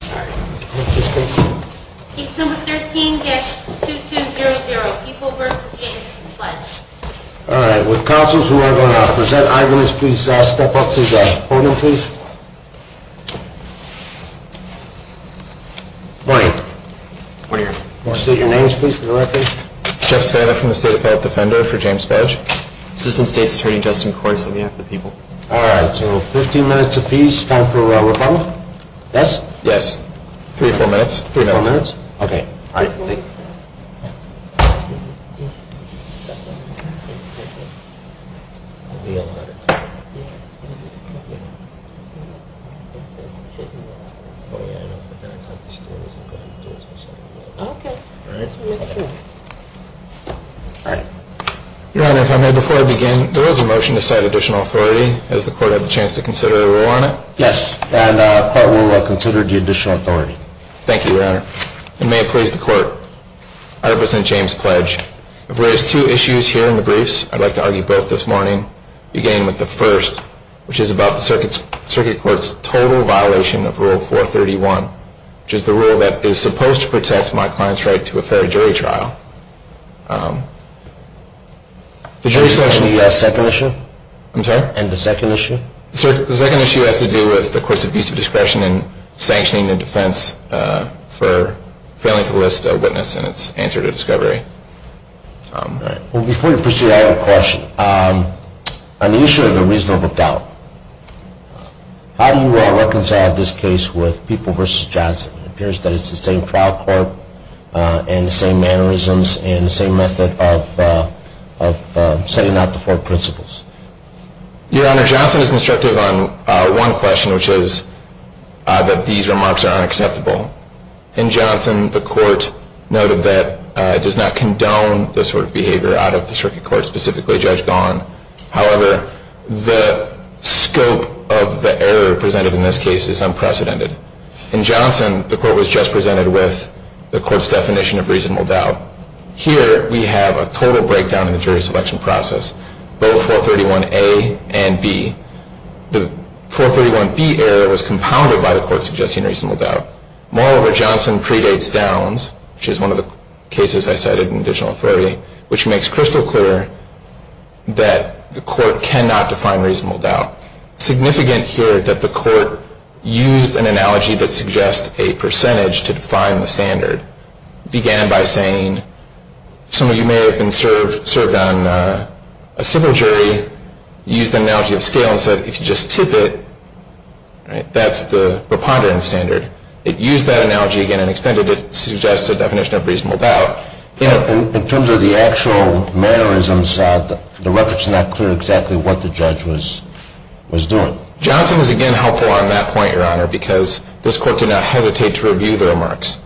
Page number 13, guest 2200, People v. James Pledge All right, would counsels who are going to present eyewitnesses please step up to the podium, please? Morning. Morning, Your Honor. I want to state your names, please, for the record. Jeff Spada from the State Appellate Defender for James Pledge. Assistant State's Attorney Justin Kors on behalf of the people. All right, so 15 minutes apiece, time for rebuttal. Yes? Yes. Three or four minutes. Three or four minutes? Okay. All right. Thank you. Your Honor, if I may, before I begin, there was a motion to cite additional authority. Has the court had the chance to consider a rule on it? Yes, and the court will consider the additional authority. Thank you, Your Honor. And may it please the court, I represent James Pledge. If there is two issues here in the briefs, I'd like to argue both this morning, beginning with the first, which is about the Circuit Court's total violation of Rule 431, which is the rule that is supposed to protect my client's right to a fair jury trial. The jury selection. The second issue? I'm sorry? And the second issue? Sir, the second issue has to do with the court's abuse of discretion in sanctioning a defense for failing to list a witness in its answer to discovery. All right. Well, before you proceed, I have a question. On the issue of the reasonable doubt, how do you reconcile this case with People v. Johnson? It appears that it's the same trial court and the same mannerisms and the same method of setting out the four principles. Your Honor, Johnson is instructive on one question, which is that these remarks are unacceptable. In Johnson, the court noted that it does not condone this sort of behavior out of the Circuit Court, specifically Judge Gahan. However, the scope of the error presented in this case is unprecedented. In Johnson, the court was just presented with the court's definition of reasonable doubt. Here, we have a total breakdown in the jury selection process, both 431A and B. The 431B error was compounded by the court suggesting reasonable doubt. Moreover, Johnson predates Downs, which is one of the cases I cited in additional authority, which makes crystal clear that the court cannot define reasonable doubt. Significant here that the court used an analogy that suggests a percentage to define the standard began by saying, some of you may have been served on a civil jury, used an analogy of scale and said, if you just tip it, that's the preponderance standard. It used that analogy again and extended it to suggest a definition of reasonable doubt. In terms of the actual mannerisms, the reference is not clear exactly what the judge was doing. Johnson is again helpful on that point, Your Honor, because this court did not hesitate to review the remarks.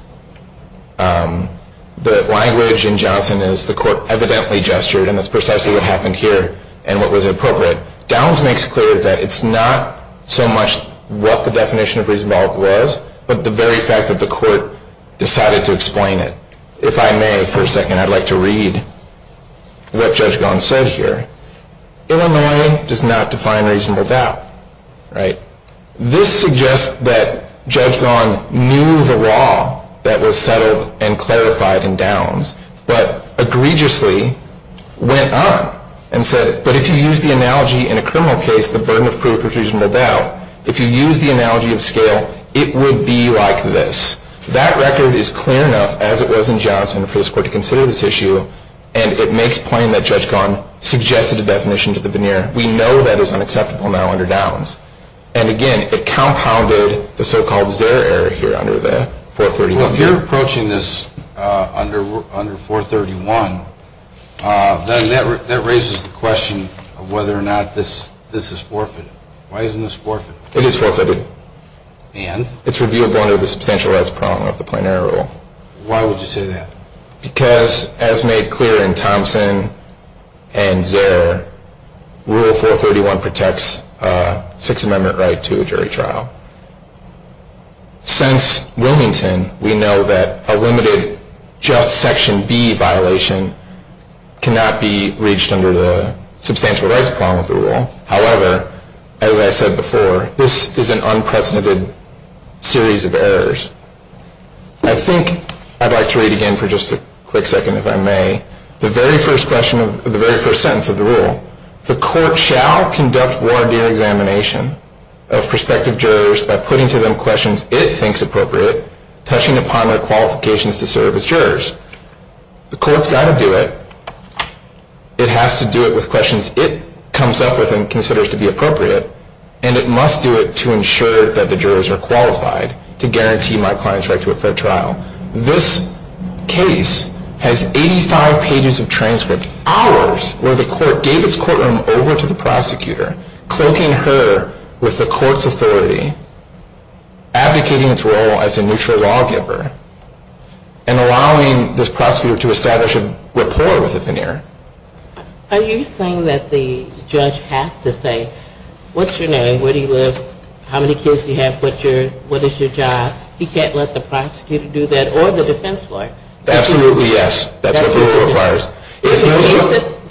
The language in Johnson is, the court evidently gestured, and that's precisely what happened here and what was appropriate. Downs makes clear that it's not so much what the definition of reasonable doubt was, but the very fact that the court decided to explain it. If I may, for a second, I'd like to read what Judge Gaughan said here. Illinois does not define reasonable doubt. This suggests that Judge Gaughan knew the law that was settled and clarified in Downs, but egregiously went on and said, but if you use the analogy in a criminal case, the burden of proof is reasonable doubt. If you use the analogy of scale, it would be like this. That record is clear enough, as it was in Johnson, for this court to consider this issue, and it makes plain that Judge Gaughan suggested a definition to the veneer. We know that is unacceptable now under Downs. And again, it compounded the so-called Zerr error here under the 431. Well, if you're approaching this under 431, then that raises the question of whether or not this is forfeited. Why isn't this forfeited? It is forfeited. And? It's reviewable under the substantialized problem of the plain error rule. Why would you say that? Because, as made clear in Thompson and Zerr, Rule 431 protects a Sixth Amendment right to a jury trial. Since Wilmington, we know that a limited just Section B violation cannot be reached under the substantialized problem of the rule. However, as I said before, this is an unprecedented series of errors. I think I'd like to read again for just a quick second, if I may, the very first question of the very first sentence of the rule. The court shall conduct a warranted examination of prospective jurors by putting to them questions it thinks appropriate, touching upon their qualifications to serve as jurors. The court's got to do it. It has to do it with questions it comes up with and considers to be appropriate, and it must do it to ensure that the jurors are qualified to guarantee my client's right to a fair trial. This case has 85 pages of transcripts, hours, where the court gave its courtroom over to the prosecutor, cloaking her with the court's authority, advocating its role as a neutral lawgiver, and allowing this prosecutor to establish a rapport with the veneer. Are you saying that the judge has to say, what's your name? Where do you live? How many kids do you have? What is your job? He can't let the prosecutor do that or the defense lawyer. Absolutely, yes. That's what the rule requires.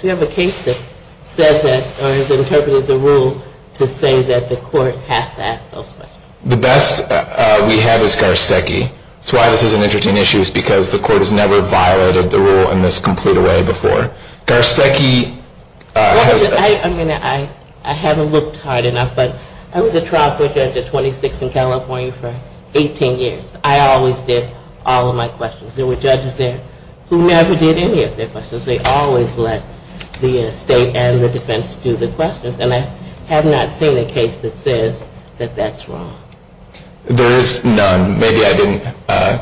Do you have a case that says that or has interpreted the rule to say that the court has to ask those questions? The best we have is Garcecki. That's why this is an interesting issue is because the court has never violated the rule in this complete way before. Garcecki. I mean, I haven't looked hard enough, but I was a trial court judge at 26 in California for 18 years. I always did all of my questions. There were judges there who never did any of their questions. They always let the state and the defense do the questions, and I have not seen a case that says that that's wrong. There is none. Maybe I didn't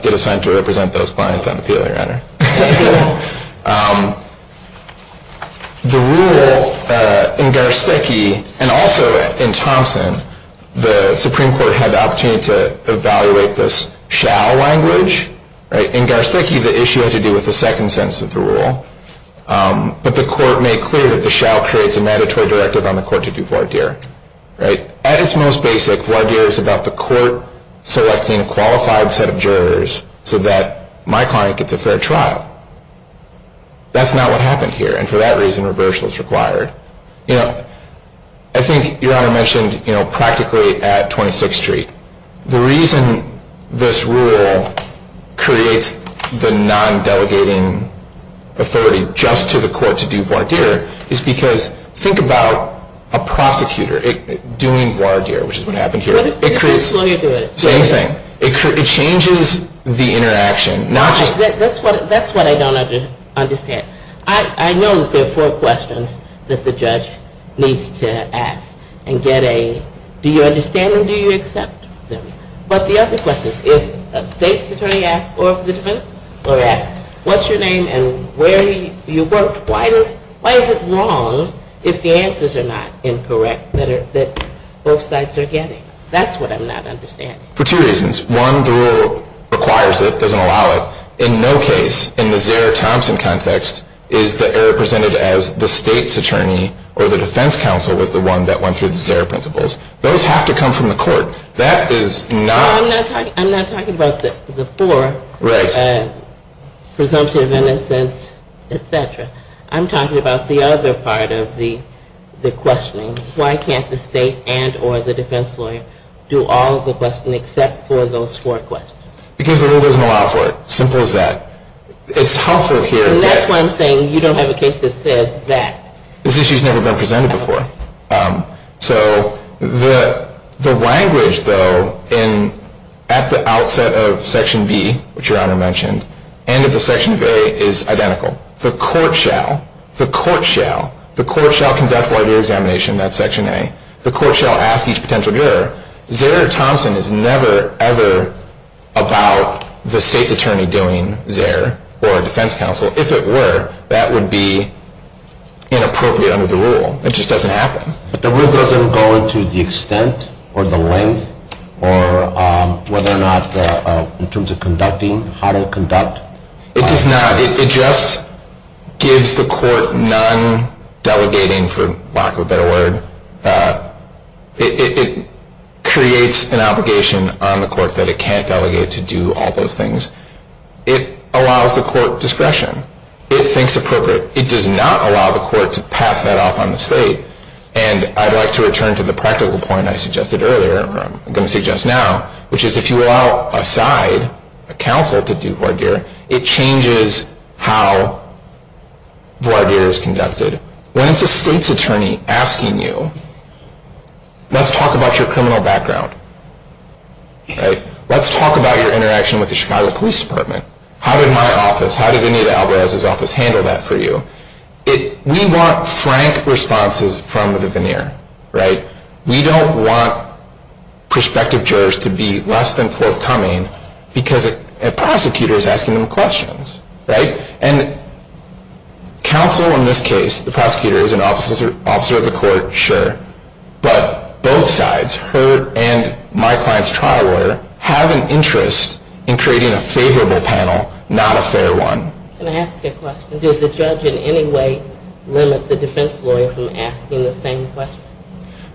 get assigned to represent those clients on appeal, Your Honor. The rule in Garcecki and also in Thompson, the Supreme Court had the opportunity to evaluate this shall language. In Garcecki, the issue had to do with the second sentence of the rule. But the court made clear that the shall creates a mandatory directive on the court to do voir dire. At its most basic, voir dire is about the court selecting a qualified set of jurors so that my client gets a fair trial. That's not what happened here, and for that reason, reversal is required. I think Your Honor mentioned practically at 26th Street. The reason this rule creates the non-delegating authority just to the court to do voir dire is because think about a prosecutor doing voir dire, which is what happened here. It creates the same thing. It changes the interaction. That's what I don't understand. I know that there are four questions that the judge needs to ask and get a, do you understand them, do you accept them? But the other question is, if a state's attorney asks for the defense or asks what's your name and where you work, why is it wrong if the answers are not incorrect that both sides are getting? That's what I'm not understanding. For two reasons. One, the rule requires it, doesn't allow it. In no case in the Zara Thompson context is the error presented as the state's attorney or the defense counsel was the one that went through the Zara principles. Those have to come from the court. That is not. I'm not talking about the four. Right. Presumptive, in a sense, et cetera. I'm talking about the other part of the questioning. Why can't the state and or the defense lawyer do all of the questioning except for those four questions? Because the rule doesn't allow for it. Simple as that. It's helpful here. And that's why I'm saying you don't have a case that says that. This issue has never been presented before. So the language, though, at the outset of Section B, which Your Honor mentioned, and at the section of A is identical. The court shall, the court shall, the court shall conduct lawyer examination, that's Section A. The court shall ask each potential juror. Zara Thompson is never, ever about the state's attorney doing Zara or a defense counsel. If it were, that would be inappropriate under the rule. It just doesn't happen. But the rule doesn't go into the extent or the length or whether or not in terms of conducting, how to conduct? It does not. It just gives the court none delegating, for lack of a better word. It creates an obligation on the court that it can't delegate to do all those things. It allows the court discretion. It thinks appropriate. It does not allow the court to pass that off on the state. And I'd like to return to the practical point I suggested earlier, or I'm going to suggest now, which is if you allow a side, a counsel, to do voir dire, it changes how voir dire is conducted. When it's a state's attorney asking you, let's talk about your criminal background. Let's talk about your interaction with the Chicago Police Department. How did my office, how did Anita Alvarez's office handle that for you? We want frank responses from the veneer. We don't want prospective jurors to be less than forthcoming because a prosecutor is asking them questions. And counsel in this case, the prosecutor is an officer of the court, sure. But both sides, her and my client's trial lawyer, have an interest in creating a favorable panel, not a fair one. Can I ask a question? Did the judge in any way limit the defense lawyer from asking the same questions?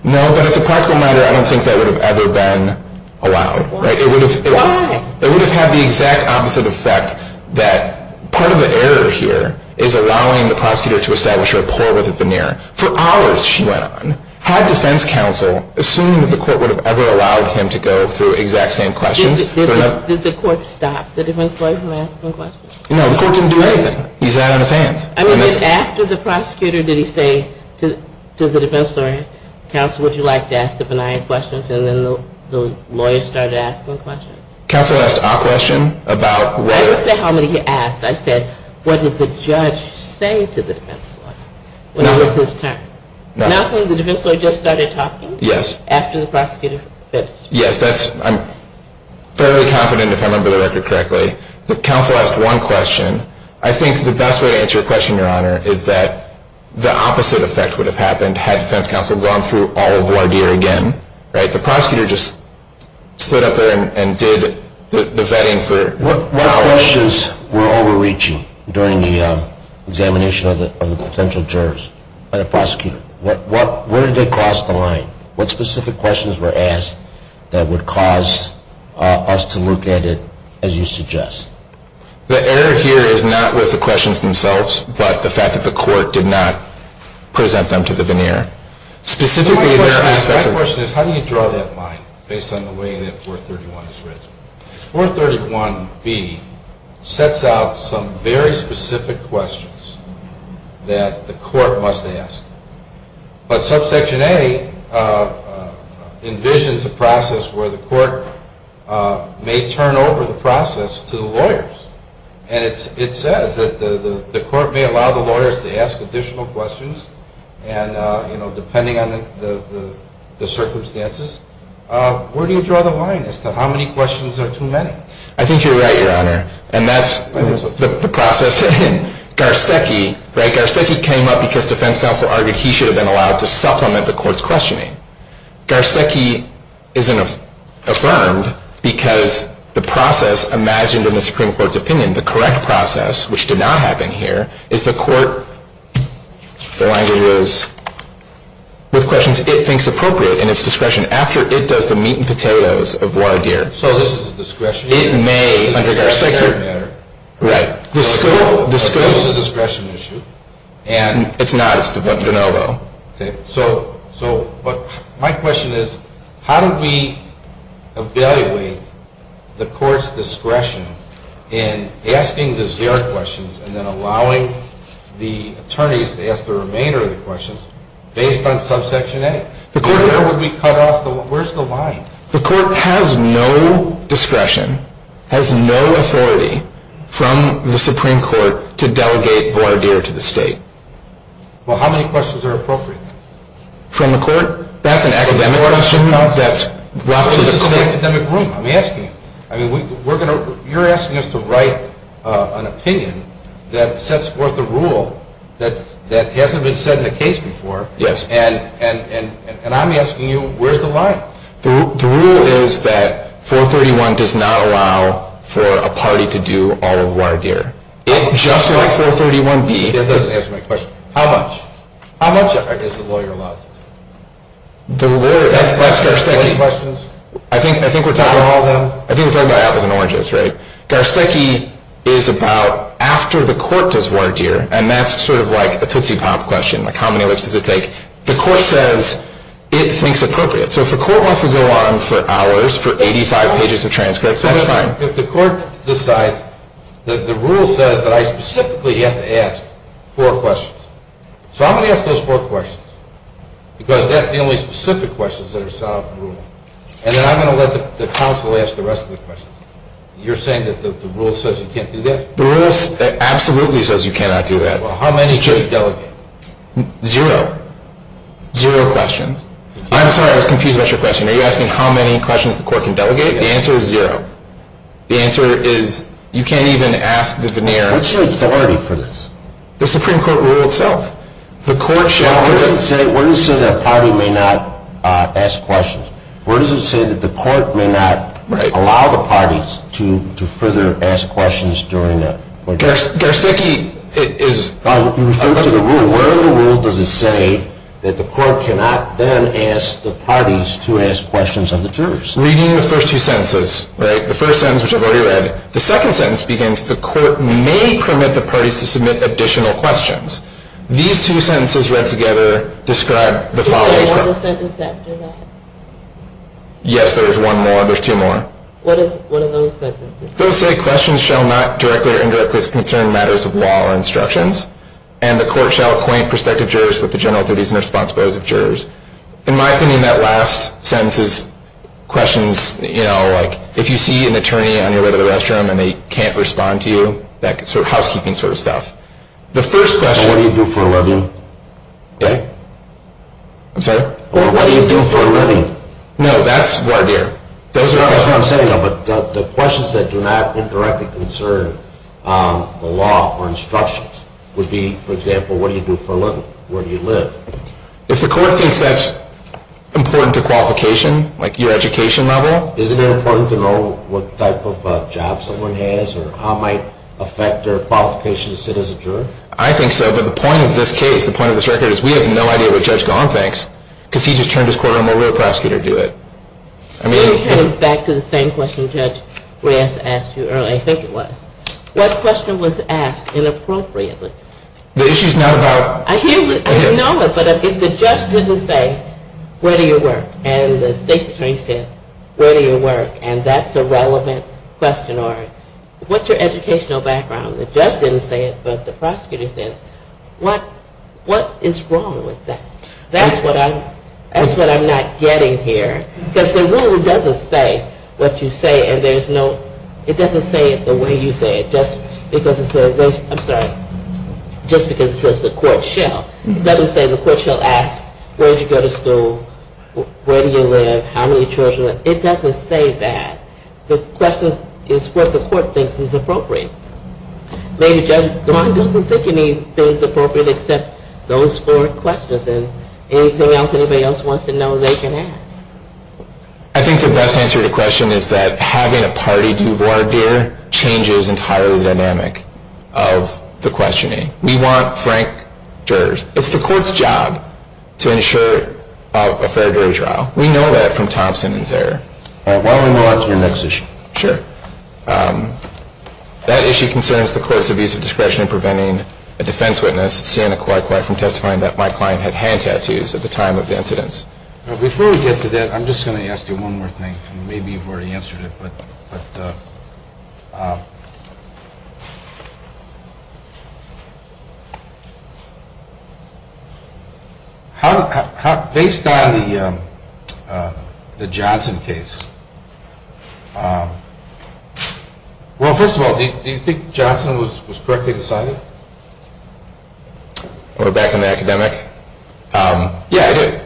No, but as a practical matter, I don't think that would have ever been allowed. Why? It would have had the exact opposite effect that part of the error here is allowing the prosecutor to establish a rapport with the veneer. For hours she went on, had defense counsel assumed that the court would have ever allowed him to go through exact same questions. Did the court stop the defense lawyer from asking questions? No, the court didn't do anything. He sat on his hands. I mean, then after the prosecutor, did he say to the defense lawyer, Counsel, would you like to ask the benign questions? And then the lawyer started asking questions. Counsel asked a question about whether I didn't say how many he asked. I said, what did the judge say to the defense lawyer? When was his turn? Nothing. Nothing? The defense lawyer just started talking? Yes. After the prosecutor finished. Yes. I'm fairly confident, if I remember the record correctly, that counsel asked one question. I think the best way to answer a question, your honor, is that the opposite effect would have happened had defense counsel gone through all of voir dire again. The prosecutor just stood up there and did the vetting for hours. What questions were overreaching during the examination of the potential jurors by the prosecutor? Where did they cross the line? What specific questions were asked that would cause us to look at it as you suggest? The error here is not with the questions themselves, but the fact that the court did not present them to the veneer. The right question is how do you draw that line based on the way that 431 is written? 431B sets out some very specific questions that the court must ask. But subsection A envisions a process where the court may turn over the process to the lawyers. And it says that the court may allow the lawyers to ask additional questions. And, you know, depending on the circumstances, where do you draw the line as to how many questions are too many? I think you're right, your honor. And that's the process. And then Garcecki, right, Garcecki came up because defense counsel argued he should have been allowed to supplement the court's questioning. Garcecki isn't affirmed because the process imagined in the Supreme Court's opinion, the correct process, which did not happen here, is the court, the language is, with questions it thinks appropriate in its discretion after it does the meat and potatoes of voir dire. So this is discretionary? It may, under Garcecki. Right. But that's a discretion issue. It's not, it's de facto. Okay. So my question is, how do we evaluate the court's discretion in asking the zero questions and then allowing the attorneys to ask the remainder of the questions based on subsection A? Where would we cut off the line? The court has no discretion, has no authority from the Supreme Court to delegate voir dire to the state. Well, how many questions are appropriate? From the court? That's an academic question. That's a physical academic rule. I'm asking you. I mean, we're going to, you're asking us to write an opinion that sets forth a rule that hasn't been set in the case before. Yes. And I'm asking you, where's the line? The rule is that 431 does not allow for a party to do all of voir dire. It just let 431 be. It doesn't answer my question. How much? How much is the lawyer allowed to do? The lawyer, that's Garcecki. Any questions? I think we're talking about apples and oranges, right? Garcecki is about after the court does voir dire, and that's sort of like a Tootsie Pop question, like how many lips does it take? The court says it thinks appropriate. So if the court wants to go on for hours, for 85 pages of transcripts, that's fine. If the court decides that the rule says that I specifically have to ask four questions. So I'm going to ask those four questions because that's the only specific questions that are set out in the rule. And then I'm going to let the counsel ask the rest of the questions. You're saying that the rule says you can't do that? The rule absolutely says you cannot do that. Well, how many should you delegate? Zero. Zero questions. I'm sorry. I was confused about your question. Are you asking how many questions the court can delegate? The answer is zero. The answer is you can't even ask the veneer. What's your authority for this? The Supreme Court rule itself. The court shall. Well, what does it say? What does it say that a party may not ask questions? What does it say that the court may not allow the parties to further ask questions during a court hearing? Garcecki is. You referred to the rule. So where in the rule does it say that the court cannot then ask the parties to ask questions of the jurors? Reading the first two sentences. The first sentence, which I've already read. The second sentence begins, the court may permit the parties to submit additional questions. These two sentences read together describe the following. Is there one more sentence after that? Yes, there is one more. There's two more. What are those sentences? Those say questions shall not directly or indirectly concern matters of law or instructions. And the court shall acquaint prospective jurors with the general duties and responsibilities of jurors. In my opinion, that last sentence is questions, you know, like if you see an attorney on your way to the restroom and they can't respond to you, that sort of housekeeping sort of stuff. The first question. What do you do for a living? I'm sorry? What do you do for a living? No, that's voir dire. That's what I'm saying, though, but the questions that do not indirectly concern the law or instructions would be, for example, what do you do for a living? Where do you live? If the court thinks that's important to qualification, like your education level. Isn't it important to know what type of job someone has or how it might affect their qualifications to sit as a juror? I think so, but the point of this case, the point of this record, is we have no idea what Judge Gahan thinks because he just turned his court over to a prosecutor to do it. It came back to the same question Judge Reyes asked you earlier, I think it was. What question was asked inappropriately? The issue is not about... I know it, but if the judge didn't say, where do you work? And the state's attorney said, where do you work? And that's a relevant question, or what's your educational background? The judge didn't say it, but the prosecutor said it. What is wrong with that? That's what I'm not getting here. Because the rule doesn't say what you say, and there's no... It doesn't say it the way you say it, just because it says... I'm sorry, just because it says the court shall. It doesn't say the court shall ask, where did you go to school? Where do you live? How many children? It doesn't say that. The question is what the court thinks is appropriate. Ladies and gentlemen, the court doesn't think anything is appropriate except those four questions. Anything else anybody else wants to know, they can ask. I think the best answer to the question is that having a party duvoir beer changes entirely the dynamic of the questioning. We want frank jurors. It's the court's job to ensure a fair jury trial. We know that from Thompson and Zare. Why don't we move on to your next issue? Sure. That issue concerns the court's abuse of discretion in preventing a defense witness, Sienna Coy Coy, from testifying that my client had hand tattoos at the time of the incidents. Before we get to that, I'm just going to ask you one more thing. Maybe you've already answered it. Based on the Johnson case, well, first of all, do you think Johnson was correctly decided? Back in the academic? Yeah, I do.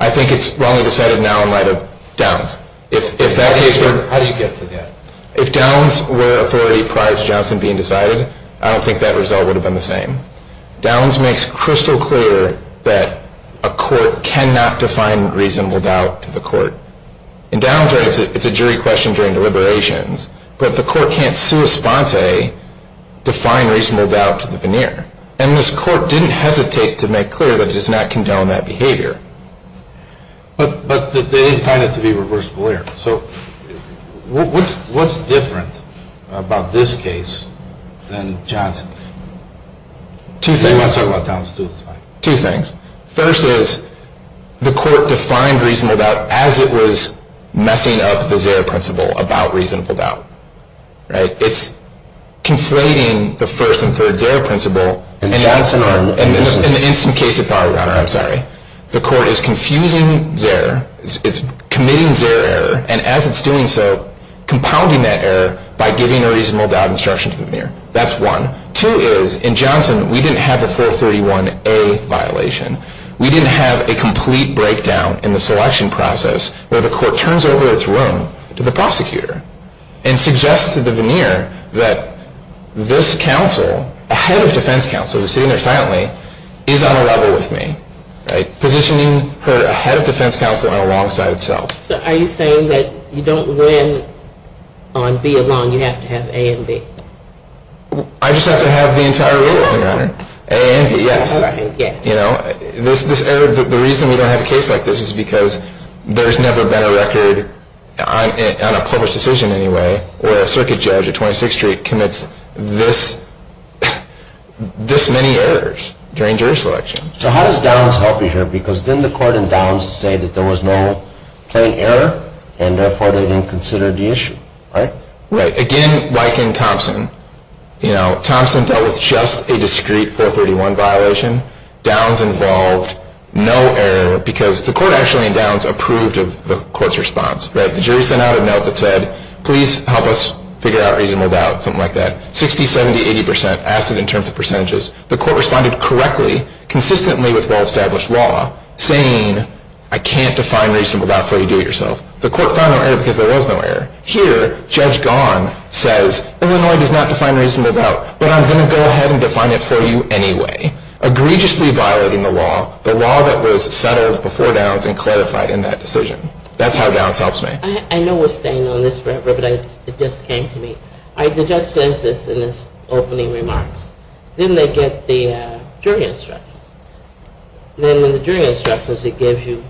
I think it's wrongly decided now in light of Downs. How do you get to that? If Downs were authority prior to Johnson being decided, I don't think that result would have been the same. Downs makes crystal clear that a court cannot define reasonable doubt to the court. In Downs, it's a jury question during deliberations, but the court can't sua sponte define reasonable doubt to the veneer. And this court didn't hesitate to make clear that it does not condone that behavior. But they didn't find it to be reversible error. So what's different about this case than Johnson? Two things. First is the court defined reasonable doubt as it was messing up the Zara principle about reasonable doubt. It's conflating the first and third Zara principle. In the instant case of Bauer-Rauner, I'm sorry, the court is confusing Zara, it's committing Zara error, and as it's doing so, compounding that error by giving a reasonable doubt instruction to the veneer. That's one. Two is, in Johnson, we didn't have a 431A violation. We didn't have a complete breakdown in the selection process where the court turns over its room to the prosecutor and suggests to the veneer that this counsel, a head of defense counsel, who's sitting there silently, is on a level with me, positioning her a head of defense counsel alongside itself. So are you saying that you don't win on B alone, you have to have A and B? I just have to have the entire rule, Your Honor. A and B, yes. The reason we don't have a case like this is because there's never been a record, on a published decision anyway, where a circuit judge at 26th Street commits this many errors during jury selection. So how does Downs help you here? Because didn't the court in Downs say that there was no plain error, and therefore they didn't consider the issue, right? Right. Again, like in Thompson, you know, Thompson dealt with just a discrete 431 violation. Downs involved no error because the court actually in Downs approved of the court's response. The jury sent out a note that said, please help us figure out reasonable doubt, something like that. 60, 70, 80 percent asked it in terms of percentages. The court responded correctly, consistently with well-established law, saying, I can't define reasonable doubt for you, do it yourself. The court found no error because there was no error. Here, Judge Gahn says, Illinois does not define reasonable doubt, but I'm going to go ahead and define it for you anyway. Egregiously violating the law, the law that was settled before Downs and clarified in that decision. That's how Downs helps me. I know we're staying on this forever, but it just came to me. The judge says this in his opening remarks. Then they get the jury instructions. Then in the jury instructions it gives you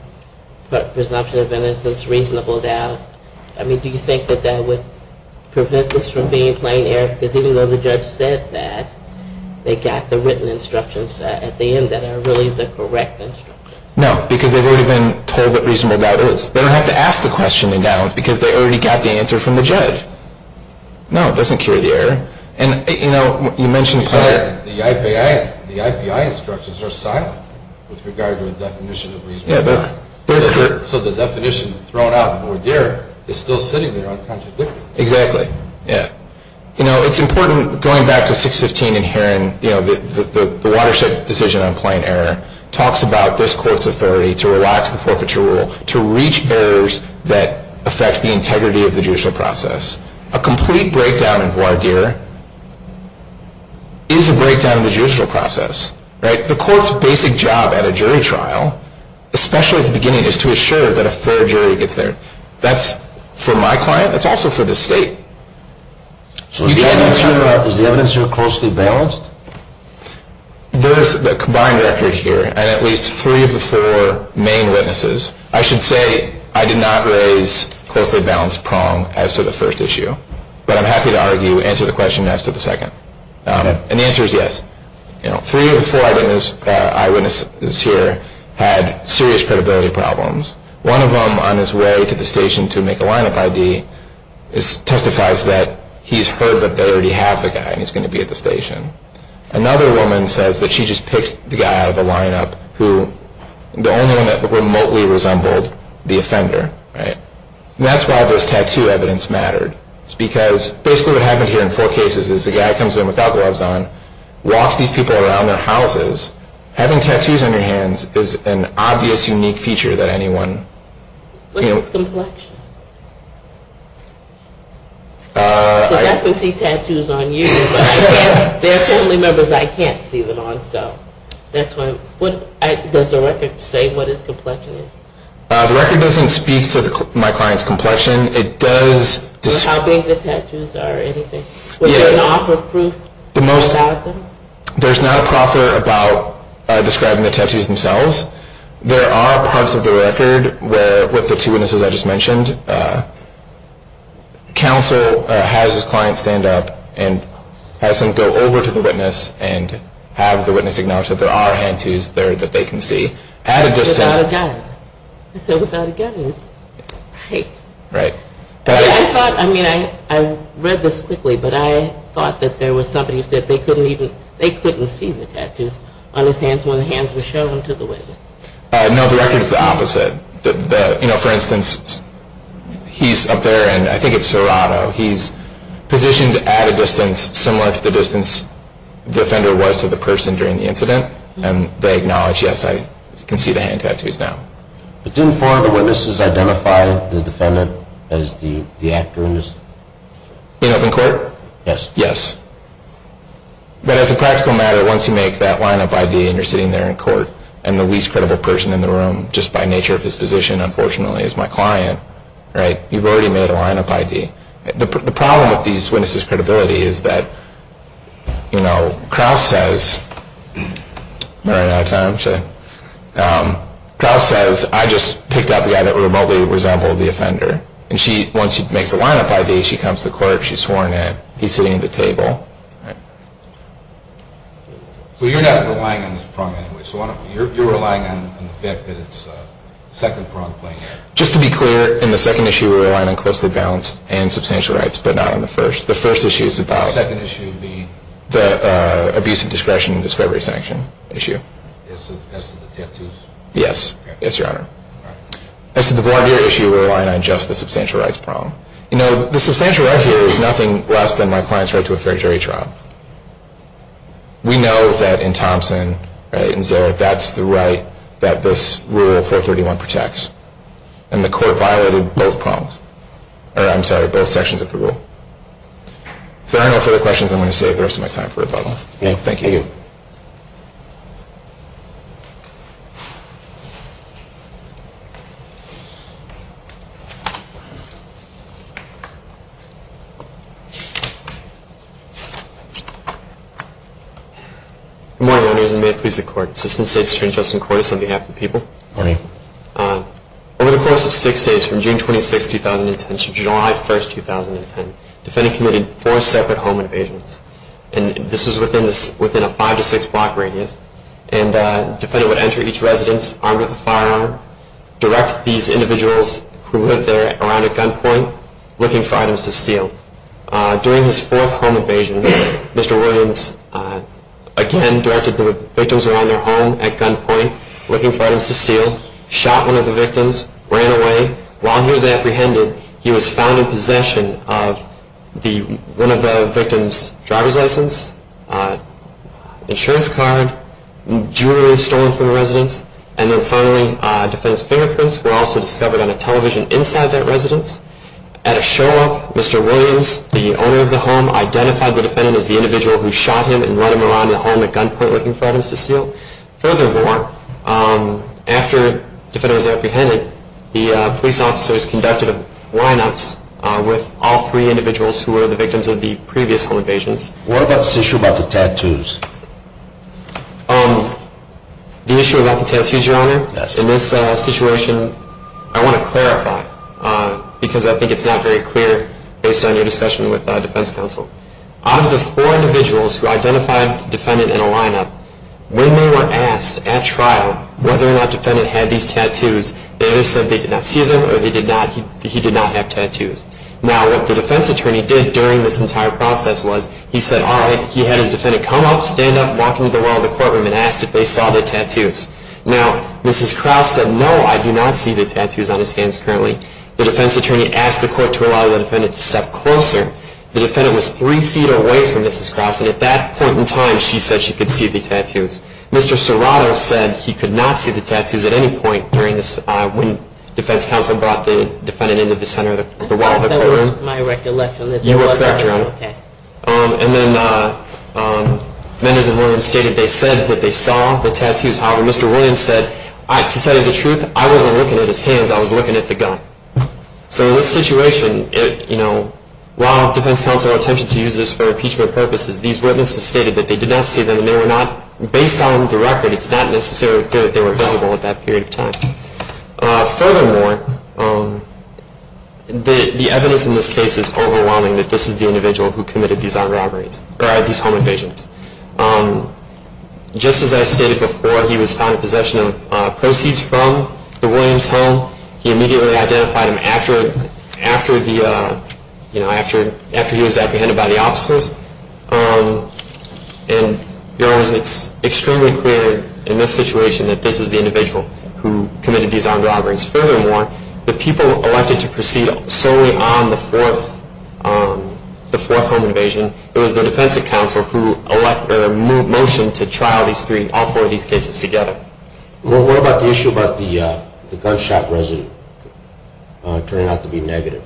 presumption of innocence, reasonable doubt. I mean, do you think that that would prevent this from being plain error? Because even though the judge said that, they got the written instructions at the end that are really the correct instructions. No, because they've already been told what reasonable doubt is. They don't have to ask the question in Downs because they already got the answer from the judge. No, it doesn't cure the error. And, you know, you mentioned prior. The IPI instructions are silent with regard to a definition of reasonable doubt. So the definition thrown out there is still sitting there uncontradicted. Exactly. Yeah. You know, it's important going back to 615 and hearing the Watershed decision on plain error talks about this court's authority to relax the forfeiture rule, to reach errors that affect the integrity of the judicial process. A complete breakdown in voir dire is a breakdown of the judicial process. Right? The court's basic job at a jury trial, especially at the beginning, is to assure that a fair jury gets there. That's for my client. That's also for the state. So is the evidence here closely balanced? There's a combined record here. And at least three of the four main witnesses. I should say I did not raise closely balanced prong as to the first issue. But I'm happy to argue, answer the question as to the second. And the answer is yes. Three of the four eyewitnesses here had serious credibility problems. One of them, on his way to the station to make a lineup ID, testifies that he's heard that they already have the guy and he's going to be at the station. Another woman says that she just picked the guy out of the lineup who, the only one that remotely resembled the offender. Right? And that's why this tattoo evidence mattered. It's because basically what happened here in four cases is a guy comes in without gloves on, walks these people around their houses. Having tattoos on your hands is an obvious unique feature that anyone. What is complexion? Because I can see tattoos on you, but there are family members I can't see them on. So that's why. Does the record say what is complexion is? The record doesn't speak to my client's complexion. It does. How big the tattoos are or anything. Does it offer proof about them? There's not a proffer about describing the tattoos themselves. There are parts of the record where, with the two witnesses I just mentioned, counsel has his client stand up and has him go over to the witness and have the witness acknowledge that there are tattoos there that they can see. At a distance. Without a gun. I said without a gun. Right. Right. I thought, I mean, I read this quickly, but I thought that there was somebody who said they couldn't even, they couldn't see the tattoos on his hands when the hands were shown to the witness. No, the record is the opposite. You know, for instance, he's up there and I think it's Serrato. He's positioned at a distance similar to the distance the offender was to the person during the incident. And they acknowledge, yes, I can see the hand tattoos now. But didn't four of the witnesses identify the defendant as the actor in this? In open court? Yes. Yes. But as a practical matter, once you make that line-up ID and you're sitting there in court, and the least credible person in the room, just by nature of his position, unfortunately, is my client, right, you've already made a line-up ID. The problem with these witnesses' credibility is that, you know, Kraus says, am I running out of time? Kraus says, I just picked out the guy that remotely resembled the offender. And she, once she makes a line-up ID, she comes to court, she's sworn in, he's sitting at the table. Well, you're not relying on this prong anyway. So you're relying on the fact that it's a second prong playing out. Just to be clear, in the second issue we're relying on closely balanced and substantial rights, but not in the first. The first issue is about the abuse of discretion and discovery sanction issue. As to the tattoos? Yes. Yes, Your Honor. As to the voir dire issue, we're relying on just the substantial rights prong. You know, the substantial right here is nothing less than my client's right to a fair jury trial. We know that in Thompson, right, in Zara, that's the right that this Rule 431 protects. And the court violated both prongs. Or, I'm sorry, both sections of the rule. If there are no further questions, I'm going to save the rest of my time for rebuttal. Thank you. Thank you. Good morning, Owners, and may it please the Court. Assistant State's Attorney, Justin Cordes, on behalf of the people. Morning. Over the course of six days, from June 26, 2010 to July 1, 2010, defendant committed four separate home invasions. And this was within a five to six block radius. And defendant would enter each residence armed with a firearm, During his fourth home invasion, Mr. Williams, again, directed the victims around their home at gunpoint, looking for items to steal, shot one of the victims, ran away. While he was apprehended, he was found in possession of one of the victims' driver's license, insurance card, jewelry stolen from the residence, and then finally, defendant's fingerprints were also discovered on a television inside that residence. At a show-up, Mr. Williams, the owner of the home, identified the defendant as the individual who shot him and ran him around the home at gunpoint looking for items to steal. Furthermore, after the defendant was apprehended, the police officers conducted line-ups with all three individuals who were the victims of the previous home invasions. What about this issue about the tattoos? The issue about the tattoos, Your Honor? Yes. Well, in this situation, I want to clarify, because I think it's not very clear based on your discussion with defense counsel. Out of the four individuals who identified defendant in a line-up, when they were asked at trial whether or not defendant had these tattoos, they either said they did not see them or he did not have tattoos. Now, what the defense attorney did during this entire process was, he said, all right, he had his defendant come up, stand up, walk into the well in the courtroom, and asked if they saw the tattoos. Now, Mrs. Krause said, no, I do not see the tattoos on his hands currently. The defense attorney asked the court to allow the defendant to step closer. The defendant was three feet away from Mrs. Krause, and at that point in time, she said she could see the tattoos. Mr. Serrato said he could not see the tattoos at any point during this, when defense counsel brought the defendant into the center of the well in the courtroom. I thought that was my recollection. You are correct, Your Honor. Okay. And then Menders and Williams stated they said that they saw the tattoos. However, Mr. Williams said, to tell you the truth, I wasn't looking at his hands. I was looking at the gun. So in this situation, while defense counsel attempted to use this for impeachment purposes, these witnesses stated that they did not see them, and they were not, based on the record, it's not necessarily clear that they were visible at that period of time. Furthermore, the evidence in this case is overwhelming, that this is the individual who committed these armed robberies, or these home invasions. Just as I stated before, he was found in possession of proceeds from the Williams home. He immediately identified him after he was apprehended by the officers. And, Your Honor, it's extremely clear in this situation that this is the individual who committed these armed robberies. Furthermore, the people elected to proceed solely on the fourth home invasion, it was the defense counsel who motioned to trial all four of these cases together. Well, what about the issue about the gunshot residue turning out to be negative?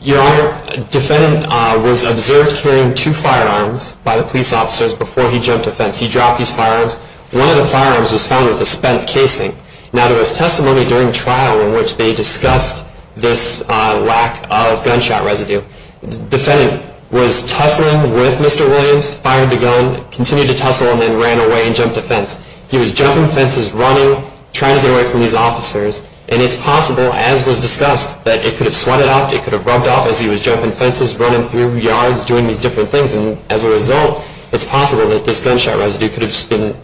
Your Honor, a defendant was observed carrying two firearms by the police officers before he jumped the fence. He dropped these firearms. One of the firearms was found with a spent casing. Now, there was testimony during trial in which they discussed this lack of gunshot residue. The defendant was tussling with Mr. Williams, fired the gun, continued to tussle, and then ran away and jumped a fence. He was jumping fences, running, trying to get away from these officers. And it's possible, as was discussed, that it could have sweated up, it could have rubbed off as he was jumping fences, running through yards, doing these different things. And as a result, it's possible that this gunshot residue could have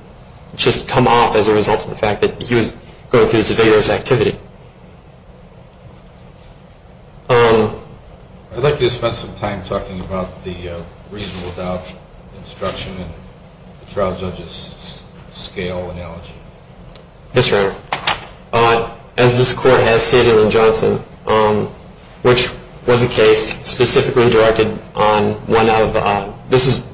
just come off as a result of the fact that he was going through some vigorous activity. I'd like you to spend some time talking about the reasonable doubt instruction and the trial judge's scale analogy. Yes, Your Honor. As this Court has stated in Johnson, which was a case specifically directed on one of the This is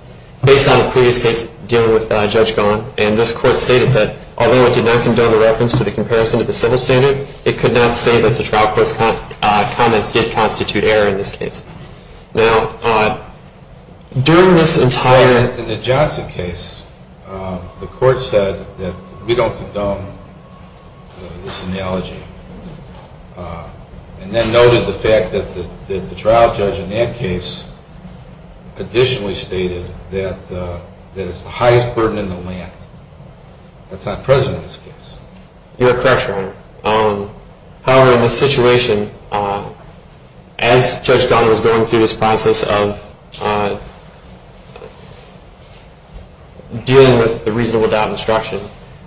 based on a previous case dealing with Judge Gunn. And this Court stated that although it did not condone the reference to the comparison to the civil standard, it could not say that the trial court's comments did constitute error in this case. Now, during this entire... In the Johnson case, the Court said that we don't condone this analogy. And then noted the fact that the trial judge in that case additionally stated that it's the highest burden in the land. That's not present in this case. You're correct, Your Honor. However, in this situation, as Judge Gunn was going through this process of dealing with the reasonable doubt instruction,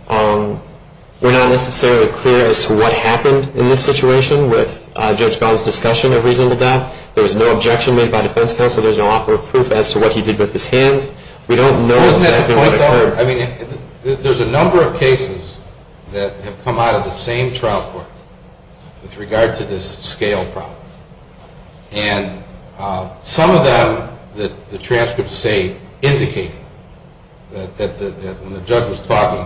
we're not necessarily clear as to what happened in this situation with Judge Gunn's discussion of reasonable doubt. There was no objection made by defense counsel. There's no offer of proof as to what he did with his hands. We don't know exactly what occurred. There's a number of cases that have come out of the same trial court with regard to this scale problem. And some of them, the transcripts say, indicate that when the judge was talking,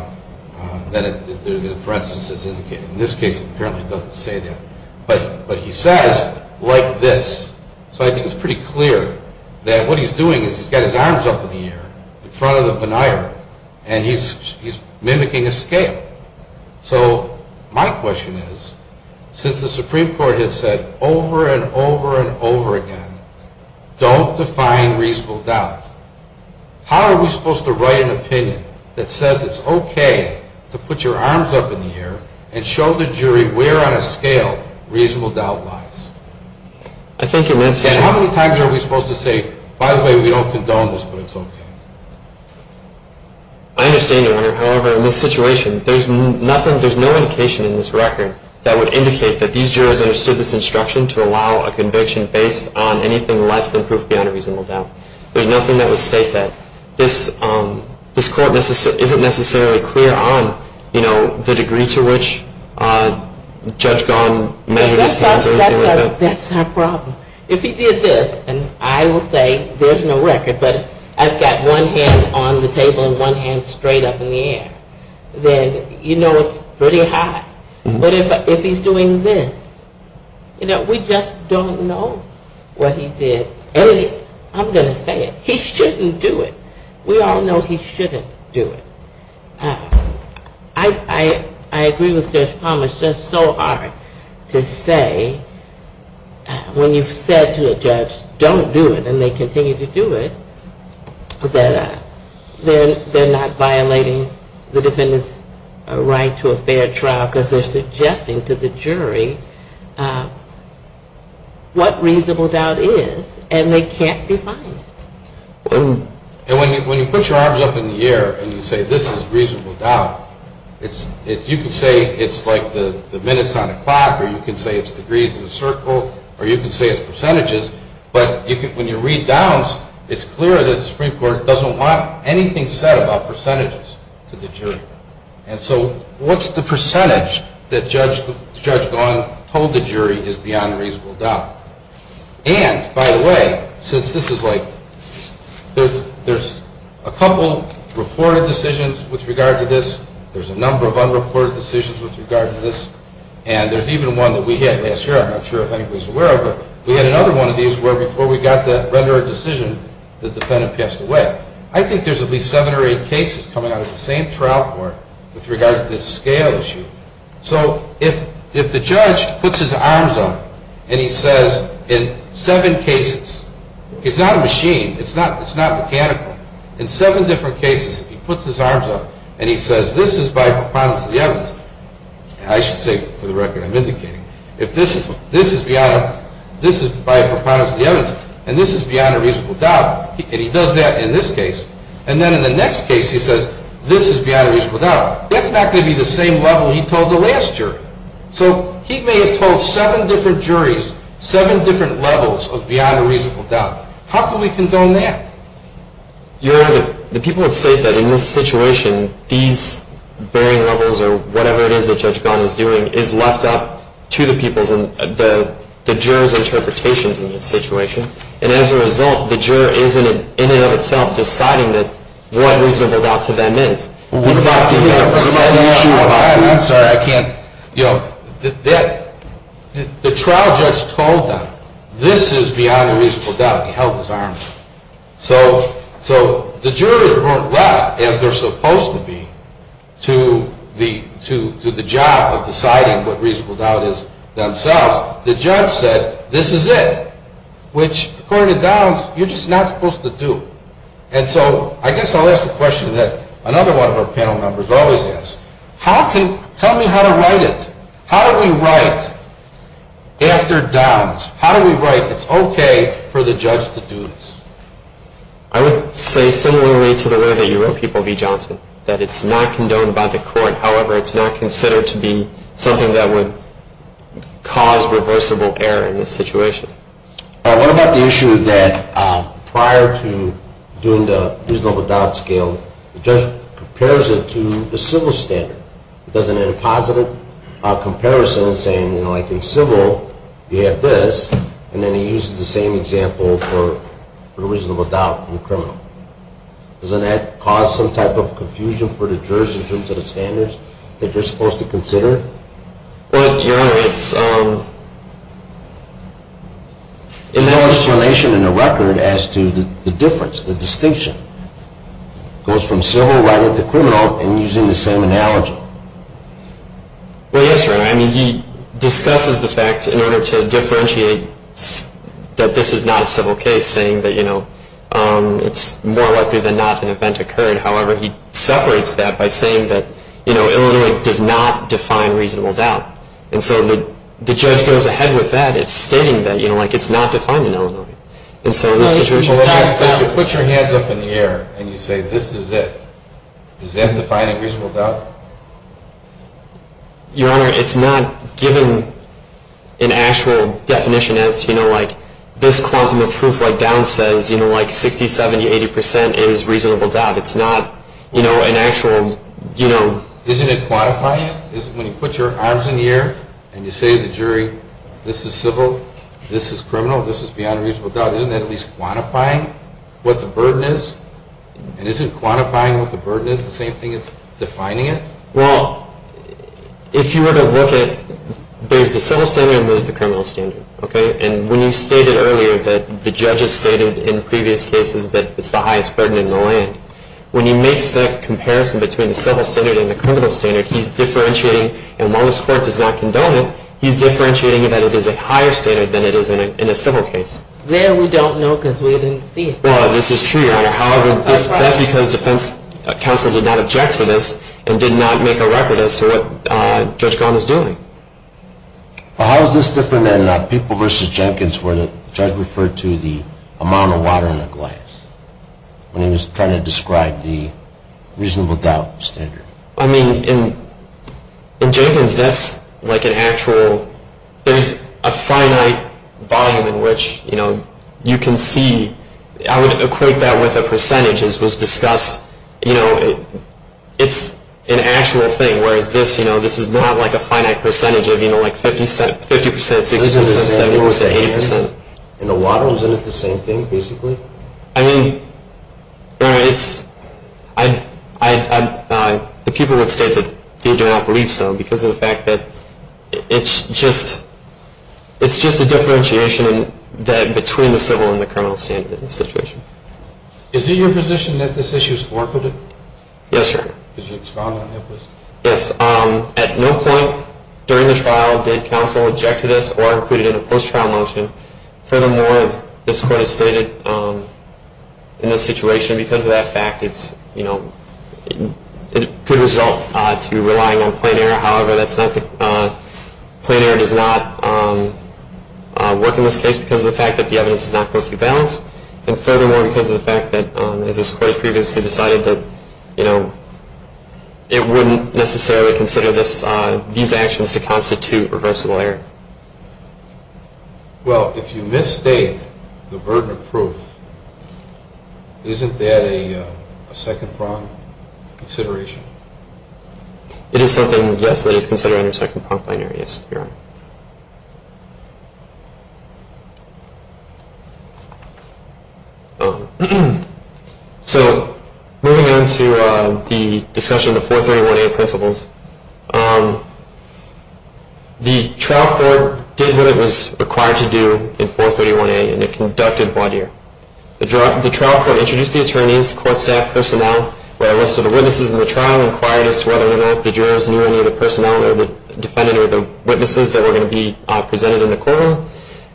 for instance, it's indicated. In this case, it apparently doesn't say that. But he says, like this. So I think it's pretty clear that what he's doing is he's got his arms up in the air in front of the veneer, and he's mimicking a scale. So my question is, since the Supreme Court has said over and over and over again, don't define reasonable doubt, how are we supposed to write an opinion that says it's okay to put your arms up in the air and show the jury where on a scale reasonable doubt lies? How many times are we supposed to say, by the way, we don't condone this, but it's okay? I understand, Your Honor. However, in this situation, there's no indication in this record that would indicate that these jurors understood this instruction to allow a conviction based on anything less than proof beyond a reasonable doubt. There's nothing that would state that. This court isn't necessarily clear on the degree to which Judge Gahan measured his hands. That's our problem. If he did this, and I will say there's no record, but I've got one hand on the table and one hand straight up in the air, then you know it's pretty high. But if he's doing this, you know, we just don't know what he did. And I'm going to say it, he shouldn't do it. We all know he shouldn't do it. I agree with Judge Palmer. It's just so hard to say when you've said to a judge, don't do it, and they continue to do it, that they're not violating the defendant's right to a fair trial because they're suggesting to the jury what reasonable doubt is, and they can't define it. And when you put your arms up in the air and you say this is reasonable doubt, you can say it's like the minutes on a clock, or you can say it's degrees in a circle, or you can say it's percentages, but when you read downs, it's clear that the Supreme Court doesn't want anything said about percentages to the jury. And so what's the percentage that Judge Gahan told the jury is beyond reasonable doubt? And, by the way, since this is like, there's a couple reported decisions with regard to this, there's a number of unreported decisions with regard to this, and there's even one that we had last year, I'm not sure if anybody's aware of it, we had another one of these where before we got to render a decision, the defendant passed away. I think there's at least seven or eight cases coming out of the same trial court with regard to this scale issue. So if the judge puts his arms up and he says in seven cases, it's not a machine, it's not mechanical, in seven different cases he puts his arms up and he says this is by preponderance of the evidence, I should say for the record I'm indicating, if this is beyond, this is by preponderance of the evidence, and this is beyond a reasonable doubt, and he does that in this case, and then in the next case he says this is beyond a reasonable doubt, that's not going to be the same level he told the last jury. So he may have told seven different juries seven different levels of beyond a reasonable doubt. How can we condone that? Your Honor, the people have stated that in this situation, these varying levels or whatever it is that Judge Gunn is doing is left up to the people's, the jurors' interpretations in this situation, and as a result the juror is in and of itself deciding what reasonable doubt to them is. I'm sorry, I can't, you know, the trial judge told them this is beyond a reasonable doubt and he held his arms up. So the jurors weren't left as they're supposed to be to the job of deciding what reasonable doubt is themselves. The judge said this is it, which according to Downs you're just not supposed to do. And so I guess I'll ask the question that another one of our panel members always asks. Tell me how to write it. How do we write after Downs? How do we write it's okay for the judge to do this? I would say similarly to the way that you wrote people, V. Johnson, that it's not condoned by the court. However, it's not considered to be something that would cause reversible error in this situation. What about the issue that prior to doing the reasonable doubt scale, the judge compares it to the civil standard? Does it have a positive comparison saying, you know, like in civil you have this, and then he uses the same example for the reasonable doubt in criminal? Doesn't that cause some type of confusion for the jurors in terms of the standards that you're supposed to consider? Well, Your Honor, it's in essence. There's no explanation in the record as to the difference, the distinction. It goes from civil rather than criminal in using the same analogy. Well, yes, Your Honor. I mean, he discusses the fact in order to differentiate that this is not a civil case, saying that, you know, it's more likely than not an event occurred. However, he separates that by saying that, you know, Illinois does not define reasonable doubt. And so the judge goes ahead with that. It's stating that, you know, like it's not defined in Illinois. And so in this situation. If you put your hands up in the air and you say this is it, does that define a reasonable doubt? Your Honor, it's not given an actual definition as to, you know, like this quantum of proof like down says, you know, like 60, 70, 80 percent is reasonable doubt. It's not, you know, an actual, you know. Isn't it quantifying? When you put your arms in the air and you say to the jury, this is civil, this is criminal, this is beyond reasonable doubt, isn't that at least quantifying what the burden is? And isn't quantifying what the burden is the same thing as defining it? Well, if you were to look at it, there's the civil standard and there's the criminal standard, okay? And when you stated earlier that the judge has stated in previous cases that it's the highest burden in the land, when he makes that comparison between the civil standard and the criminal standard, he's differentiating. And while this court does not condone it, he's differentiating that it is a higher standard than it is in a civil case. There we don't know because we didn't see it. Well, this is true, Your Honor. However, that's because defense counsel did not object to this and did not make a record as to what Judge Golden was doing. Well, how is this different than People v. Jenkins where the judge referred to the amount of water in a glass when he was trying to describe the reasonable doubt standard? I mean, in Jenkins, that's like an actual – there's a finite volume in which, you know, you can see – I would equate that with a percentage as was discussed. You know, it's an actual thing, whereas this, you know, this is not like a finite percentage of, you know, like 50%, 60%, 70%, 80%. And the water, isn't it the same thing, basically? I mean, Your Honor, it's – the people would state that they do not believe so because of the fact that it's just – it's just a differentiation between the civil and the criminal standard in this situation. Is it your position that this issue is forfeited? Yes, sir. Could you respond on that, please? Yes. At no point during the trial did counsel object to this or include it in a post-trial motion. Furthermore, as this Court has stated, in this situation, because of that fact, it's, you know – it could result to relying on plain error. However, that's not – plain error does not work in this case because of the fact that the evidence is not closely balanced. And furthermore, because of the fact that, as this Court previously decided that, you know, it wouldn't necessarily consider these actions to constitute reversible error. Well, if you misstate the burden of proof, isn't that a second-prong consideration? It is something, yes, that is considered under second-pronged plain error, yes, Your Honor. So moving on to the discussion of the 431A principles, the trial court did what it was required to do in 431A, and it conducted voir dire. The trial court introduced the attorneys, court staff, personnel, where a list of the witnesses in the trial inquired as to whether or not the jurors knew any of the personnel or the defendants or the witnesses that were going to be presented in the courtroom.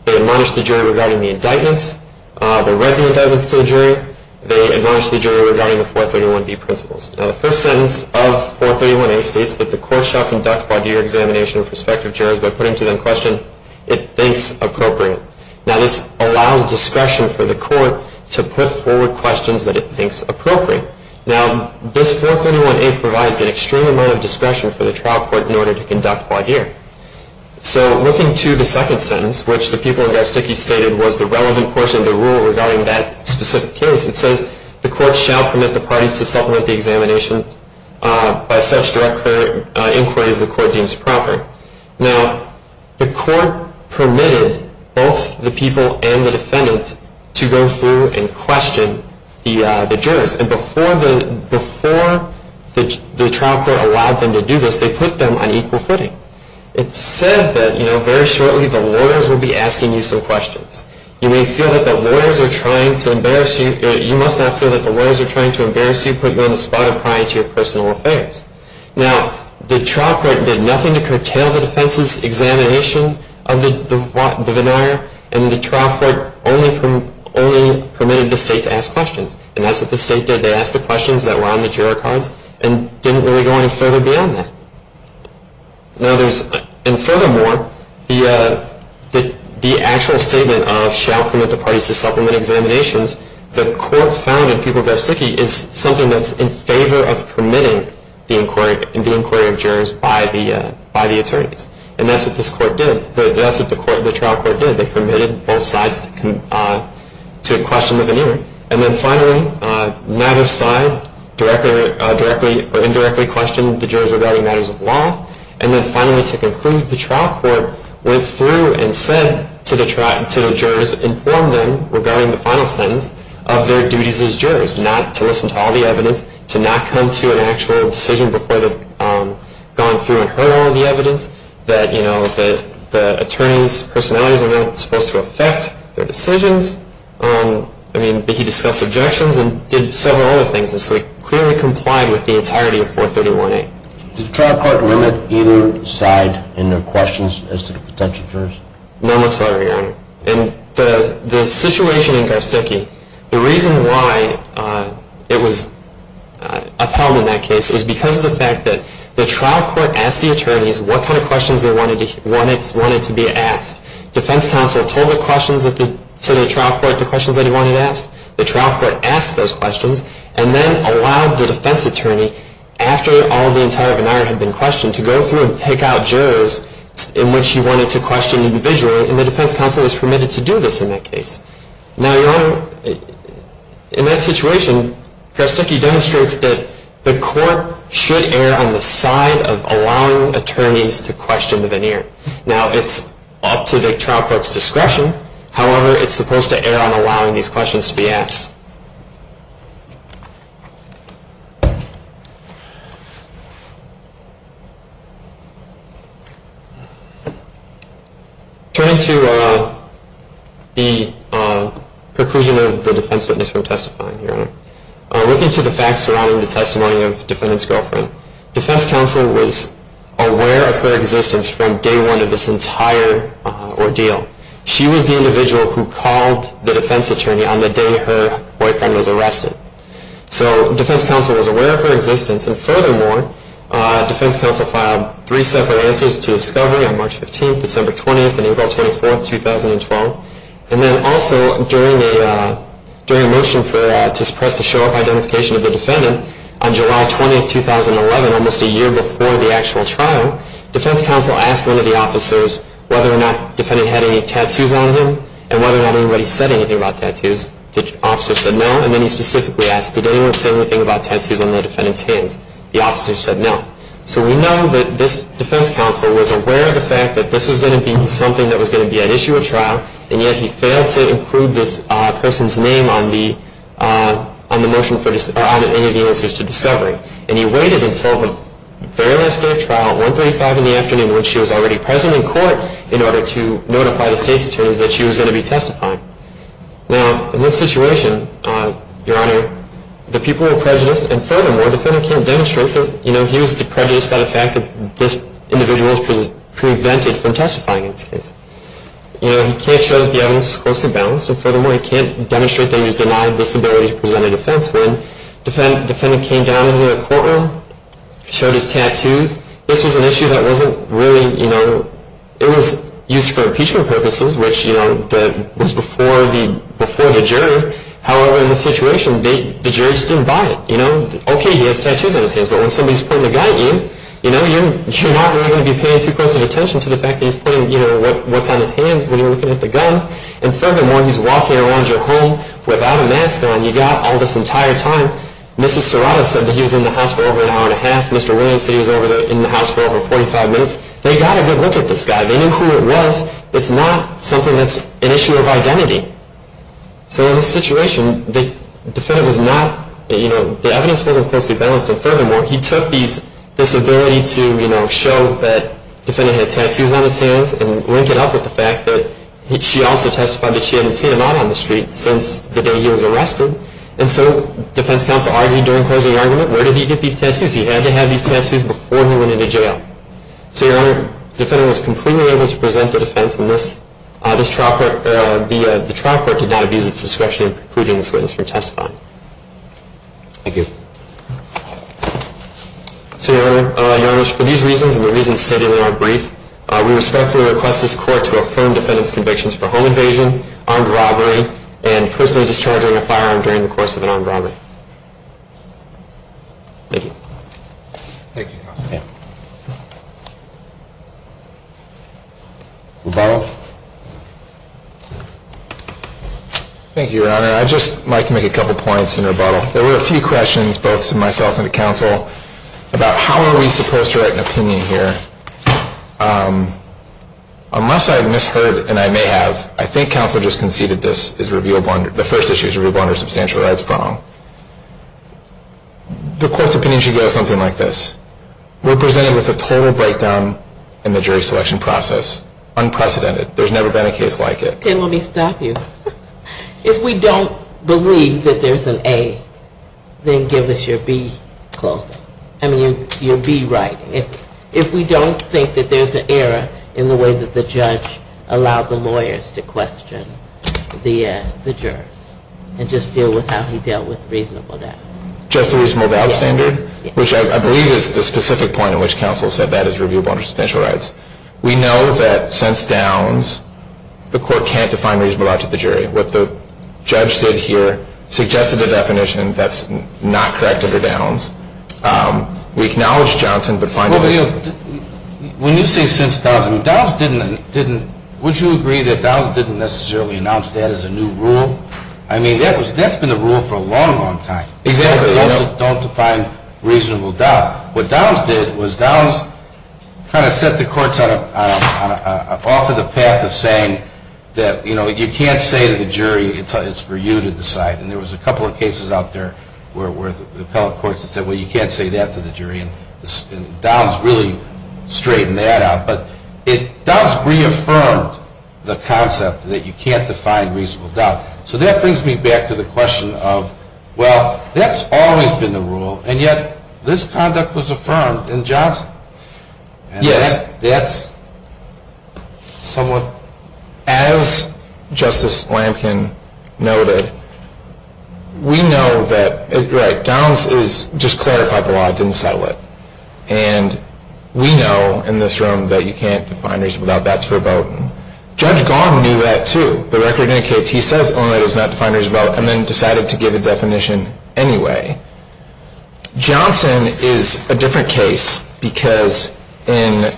They admonished the jury regarding the indictments. They read the indictments to the jury. They admonished the jury regarding the 431B principles. Now, the first sentence of 431A states that the court shall conduct voir dire examination of prospective jurors by putting to them question it thinks appropriate. Now, this allows discretion for the court to put forward questions that it thinks appropriate. Now, this 431A provides an extreme amount of discretion for the trial court in order to conduct voir dire. So looking to the second sentence, which the people in Garsticke stated was the relevant portion of the rule regarding that specific case, it says the court shall permit the parties to supplement the examination by such direct inquiry as the court deems proper. Now, the court permitted both the people and the defendant to go through and question the jurors. And before the trial court allowed them to do this, they put them on equal footing. It's said that, you know, very shortly the lawyers will be asking you some questions. You may feel that the lawyers are trying to embarrass you. You must not feel that the lawyers are trying to embarrass you, put you on the spot, or pry into your personal affairs. Now, the trial court did nothing to curtail the defense's examination of the voir dire. And the trial court only permitted the state to ask questions. And that's what the state did. They asked the questions that were on the juror cards and didn't really go any further beyond that. And furthermore, the actual statement of shall permit the parties to supplement examinations, the court found in People v. Dickey is something that's in favor of permitting the inquiry of jurors by the attorneys. And that's what this court did. That's what the trial court did. They permitted both sides to question the veneer. And then finally, neither side directly or indirectly questioned the jurors regarding matters of law. And then finally, to conclude, the trial court went through and said to the jurors, informed them regarding the final sentence of their duties as jurors, not to listen to all the evidence, to not come to an actual decision before they've gone through and heard all the evidence, that the attorneys' personalities are not supposed to affect their decisions. I mean, Dickey discussed objections and did several other things. And so he clearly complied with the entirety of 431A. Did the trial court limit either side in their questions as to the potential jurors? No, not so far, Your Honor. In the situation in Garsticke, the reason why it was upheld in that case is because of the fact that the trial court asked the attorneys what kind of questions they wanted to be asked. Defense counsel told the questions to the trial court, the questions that he wanted asked. The trial court asked those questions and then allowed the defense attorney, after all the entire veneer had been questioned, to go through and pick out jurors in which he wanted to question individually. And the defense counsel was permitted to do this in that case. Now, Your Honor, in that situation, Garsticke demonstrates that the court should err on the side of allowing attorneys to question the veneer. Now, it's up to the trial court's discretion. However, it's supposed to err on allowing these questions to be asked. Turning to the conclusion of the defense witness from testifying, Your Honor, looking to the facts surrounding the testimony of defendant's girlfriend, defense counsel was aware of her existence from day one of this entire ordeal. She was the individual who called the defense attorney on the day her boyfriend was arrested. So defense counsel was aware of her existence. And furthermore, defense counsel filed three separate answers to discovery on March 15th, December 20th, and April 24th, 2012. And then also, during a motion to suppress the show-up identification of the defendant, on July 20th, 2011, almost a year before the actual trial, defense counsel asked one of the officers whether or not the defendant had any tattoos on him and whether or not anybody said anything about tattoos. The officer said no. And then he specifically asked, did anyone say anything about tattoos on the defendant's hands? The officer said no. So we know that this defense counsel was aware of the fact that this was going to be something that was going to be at issue at trial, and yet he failed to include this person's name on the motion or on any of the answers to discovery. And he waited until the very last day of trial, 135, in the afternoon, when she was already present in court in order to notify the state's attorneys that she was going to be testifying. Now, in this situation, Your Honor, the people were prejudiced, and furthermore, the defendant can't demonstrate that he was prejudiced by the fact that this individual was prevented from testifying in this case. You know, he can't show that the evidence was closely balanced, and furthermore, he can't demonstrate that he was denied this ability to present a defense. When the defendant came down into the courtroom, showed his tattoos, this was an issue that wasn't really, you know, it was used for impeachment purposes, which, you know, was before the jury. However, in this situation, the jury just didn't buy it. You know, okay, he has tattoos on his hands, but when somebody's putting a gun at you, you know, you're not really going to be paying too close attention to the fact that he's putting, you know, what's on his hands when you're looking at the gun, and furthermore, he's walking around your home without a mask on. You got all this entire time, Mrs. Serrato said that he was in the house for over an hour and a half, Mr. Williams said he was in the house for over 45 minutes. They got a good look at this guy. They knew who it was. It's not something that's an issue of identity. So in this situation, the defendant was not, you know, the evidence wasn't closely balanced, and furthermore, he took this ability to, you know, show that the defendant had tattoos on his hands and link it up with the fact that she also testified that she hadn't seen him out on the street since the day he was arrested, and so defense counsel argued during closing argument, where did he get these tattoos? He had to have these tattoos before he went into jail. So, Your Honor, the defendant was completely able to present the defense in this. The trial court did not abuse its discretion in precluding this witness from testifying. Thank you. So, Your Honor, for these reasons and the reasons stated in our brief, we respectfully request this court to affirm defendant's convictions for home invasion, armed robbery, and personally discharging a firearm during the course of an armed robbery. Thank you. Thank you, counsel. Rebuttal. Thank you, Your Honor. I'd just like to make a couple points in rebuttal. There were a few questions, both to myself and to counsel, about how are we supposed to write an opinion here. Unless I misheard, and I may have, I think counsel just conceded this is revealable under, the first issue is revealable under a substantial rights problem. The court's opinion should go something like this. We're presented with a total breakdown in the jury selection process. Unprecedented. There's never been a case like it. Okay, let me stop you. If we don't believe that there's an A, then give us your B closing. I mean, your B writing. If we don't think that there's an error in the way that the judge allowed the lawyers to question the jurors and just deal with how he dealt with reasonable doubt. Just the reasonable doubt standard? Yes. Which I believe is the specific point in which counsel said that is revealable under substantial rights. We know that since Downs, the court can't define reasonable doubt to the jury. What the judge did here suggested a definition that's not correct under Downs. We acknowledge Johnson, but find it is. When you say since Downs, would you agree that Downs didn't necessarily announce that as a new rule? I mean, that's been the rule for a long, long time. Exactly. Don't define reasonable doubt. What Downs did was Downs kind of set the courts off to the path of saying that you can't say to the jury, it's for you to decide. And there was a couple of cases out there where the appellate courts said, well, you can't say that to the jury. And Downs really straightened that out. But Downs reaffirmed the concept that you can't define reasonable doubt. So that brings me back to the question of, well, that's always been the rule, and yet this conduct was affirmed in Johnson. Yes. As Justice Lampkin noted, we know that, right, Downs just clarified the law, didn't settle it. And we know in this room that you can't define reasonable doubt. That's verboten. Judge Gauden knew that, too. The record indicates he says Illinois does not define reasonable doubt and then decided to give a definition anyway. Johnson is a different case because in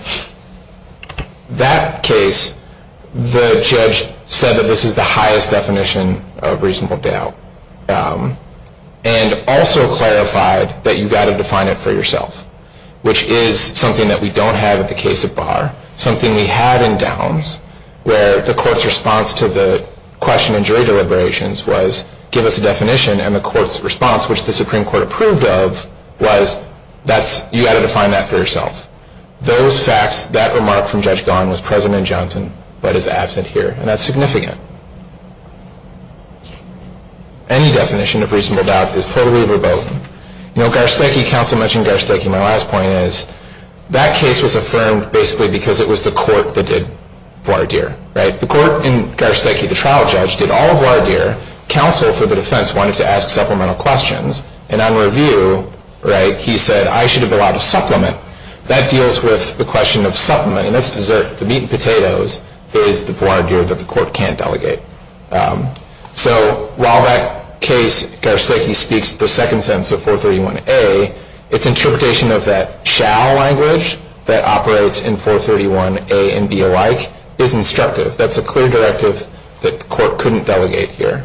that case, the judge said that this is the highest definition of reasonable doubt. And also clarified that you've got to define it for yourself, which is something that we don't have in the case of Barr. Something we have in Downs where the court's response to the question in jury deliberations was give us a definition. And the court's response, which the Supreme Court approved of, was you've got to define that for yourself. Those facts, that remark from Judge Gauden was present in Johnson but is absent here. And that's significant. Any definition of reasonable doubt is totally verboten. You know, Garsteki, counsel mentioned Garsteki. My last point is that case was affirmed basically because it was the court that did voir dire, right? The court in Garsteki, the trial judge, did all voir dire. Counsel for the defense wanted to ask supplemental questions. And on review, right, he said, I should have allowed a supplement. That deals with the question of supplement. And that's dessert. The meat and potatoes is the voir dire that the court can't delegate. So while that case, Garsteki speaks the second sentence of 431A, its interpretation of that shall language that operates in 431A and B alike is instructive. That's a clear directive that the court couldn't delegate here.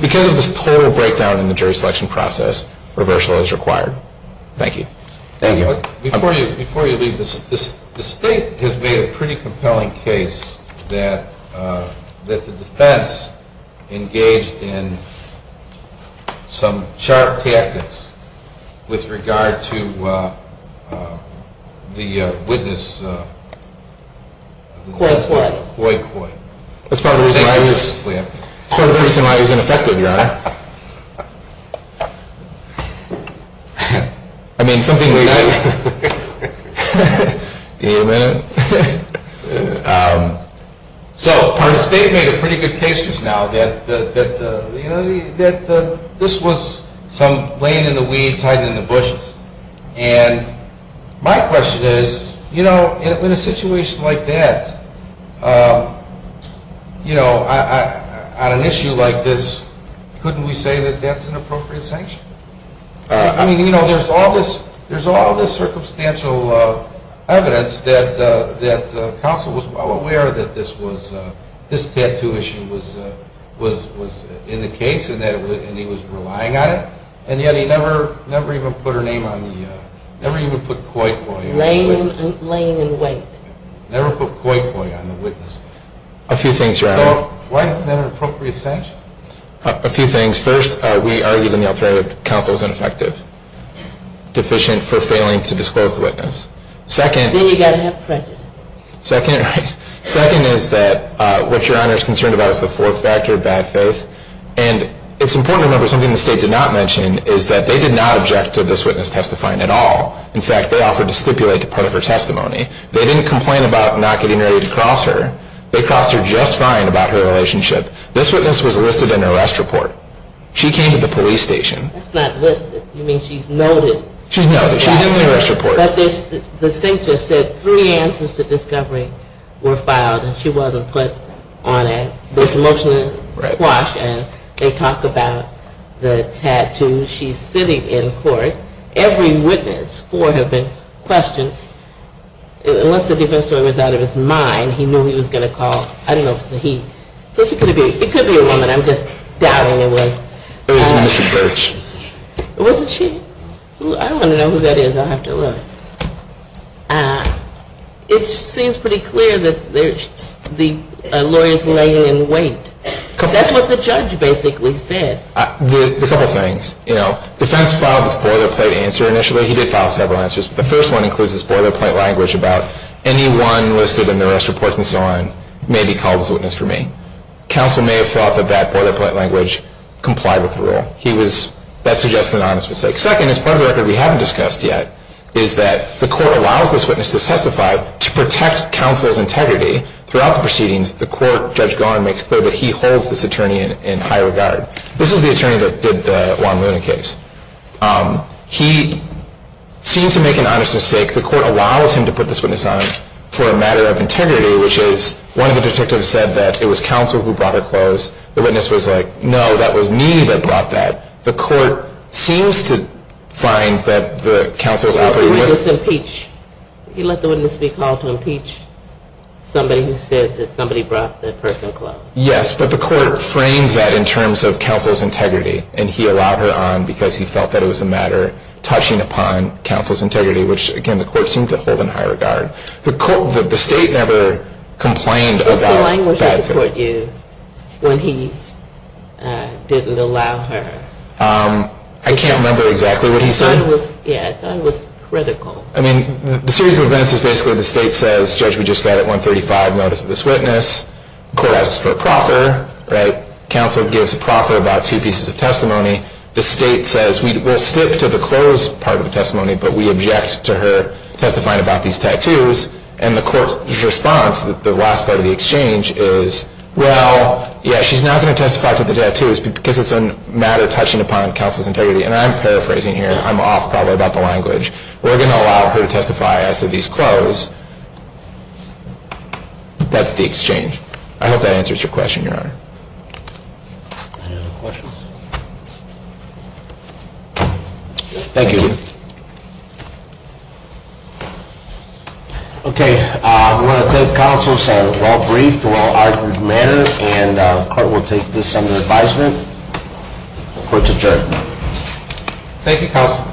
Because of this total breakdown in the jury selection process, reversal is required. Thank you. Before you leave, the state has made a pretty compelling case that the defense engaged in some sharp tactics with regard to the witness. Coy, coy. Coy, coy. That's part of the reason why I was ineffective, Your Honor. I mean, something like that. Amen. So our state made a pretty good case just now that this was some laying in the weeds, hiding in the bushes. And my question is, you know, in a situation like that, you know, on an issue like this, couldn't we say that that's an appropriate sanction? I mean, you know, there's all this circumstantial evidence that counsel was well aware that this was, this tattoo issue was in the case and he was relying on it. And yet he never, never even put her name on the, never even put coy, coy on the witness. Laying in wait. Never put coy, coy on the witness. A few things, Your Honor. So why isn't that an appropriate sanction? A few things. First, we argued in the alternative that counsel was ineffective, deficient for failing to disclose the witness. Then you've got to have prejudice. Second is that what Your Honor is concerned about is the fourth factor, bad faith. And it's important to remember something the state did not mention is that they did not object to this witness testifying at all. In fact, they offered to stipulate a part of her testimony. They didn't complain about not getting ready to cross her. They crossed her just fine about her relationship. This witness was listed in an arrest report. She came to the police station. That's not listed. You mean she's noted. She's noted. She's in the arrest report. But the state just said three answers to discovery were filed. And she wasn't put on a disemotional squash. And they talk about the tattoos. She's sitting in court. Every witness, four have been questioned. Once the defense lawyer was out of his mind, he knew he was going to call. I don't know if it was he. It could be a woman. I'm just doubting it was. It was Mrs. Burks. Wasn't she? I want to know who that is. I'll have to look. It seems pretty clear that the lawyer is laying in wait. That's what the judge basically said. A couple things. You know, defense filed a spoiler plate answer initially. He did file several answers. The first one includes a spoiler plate language about anyone listed in the arrest report and so on may be called as a witness for me. Counsel may have thought that that spoiler plate language complied with the rule. That suggests an honest mistake. Second, as part of the record we haven't discussed yet, is that the court allows this witness to testify to protect counsel's integrity. Throughout the proceedings, the court, Judge Gawin makes clear that he holds this attorney in high regard. This is the attorney that did the Juan Luna case. He seemed to make an honest mistake. The court allows him to put this witness on for a matter of integrity, which is one of the detectives said that it was counsel who brought her clothes. The witness was like, no, that was me that brought that. The court seems to find that the counsel is operating with. He let the witness be called to impeach somebody who said that somebody brought that person clothes. Yes, but the court framed that in terms of counsel's integrity, and he allowed her on because he felt that it was a matter touching upon counsel's integrity, which, again, the court seemed to hold in high regard. The state never complained about that. The court used when he didn't allow her. I can't remember exactly what he said. Yeah, I thought it was critical. I mean, the series of events is basically the state says, Judge, we just got a 135 notice of this witness. The court asks for a proffer, right? Counsel gives a proffer about two pieces of testimony. The state says, we'll stick to the clothes part of the testimony, but we object to her testifying about these tattoos. And the court's response, the last part of the exchange is, well, yeah, she's not going to testify to the tattoos because it's a matter touching upon counsel's integrity. And I'm paraphrasing here. I'm off probably about the language. We're going to allow her to testify as to these clothes. That's the exchange. I hope that answers your question, Your Honor. Any other questions? Thank you. Thank you. Okay. I want to thank counsel. It's a well-briefed, well-argued matter, and the court will take this under advisement. Court's adjourned. Thank you, counsel.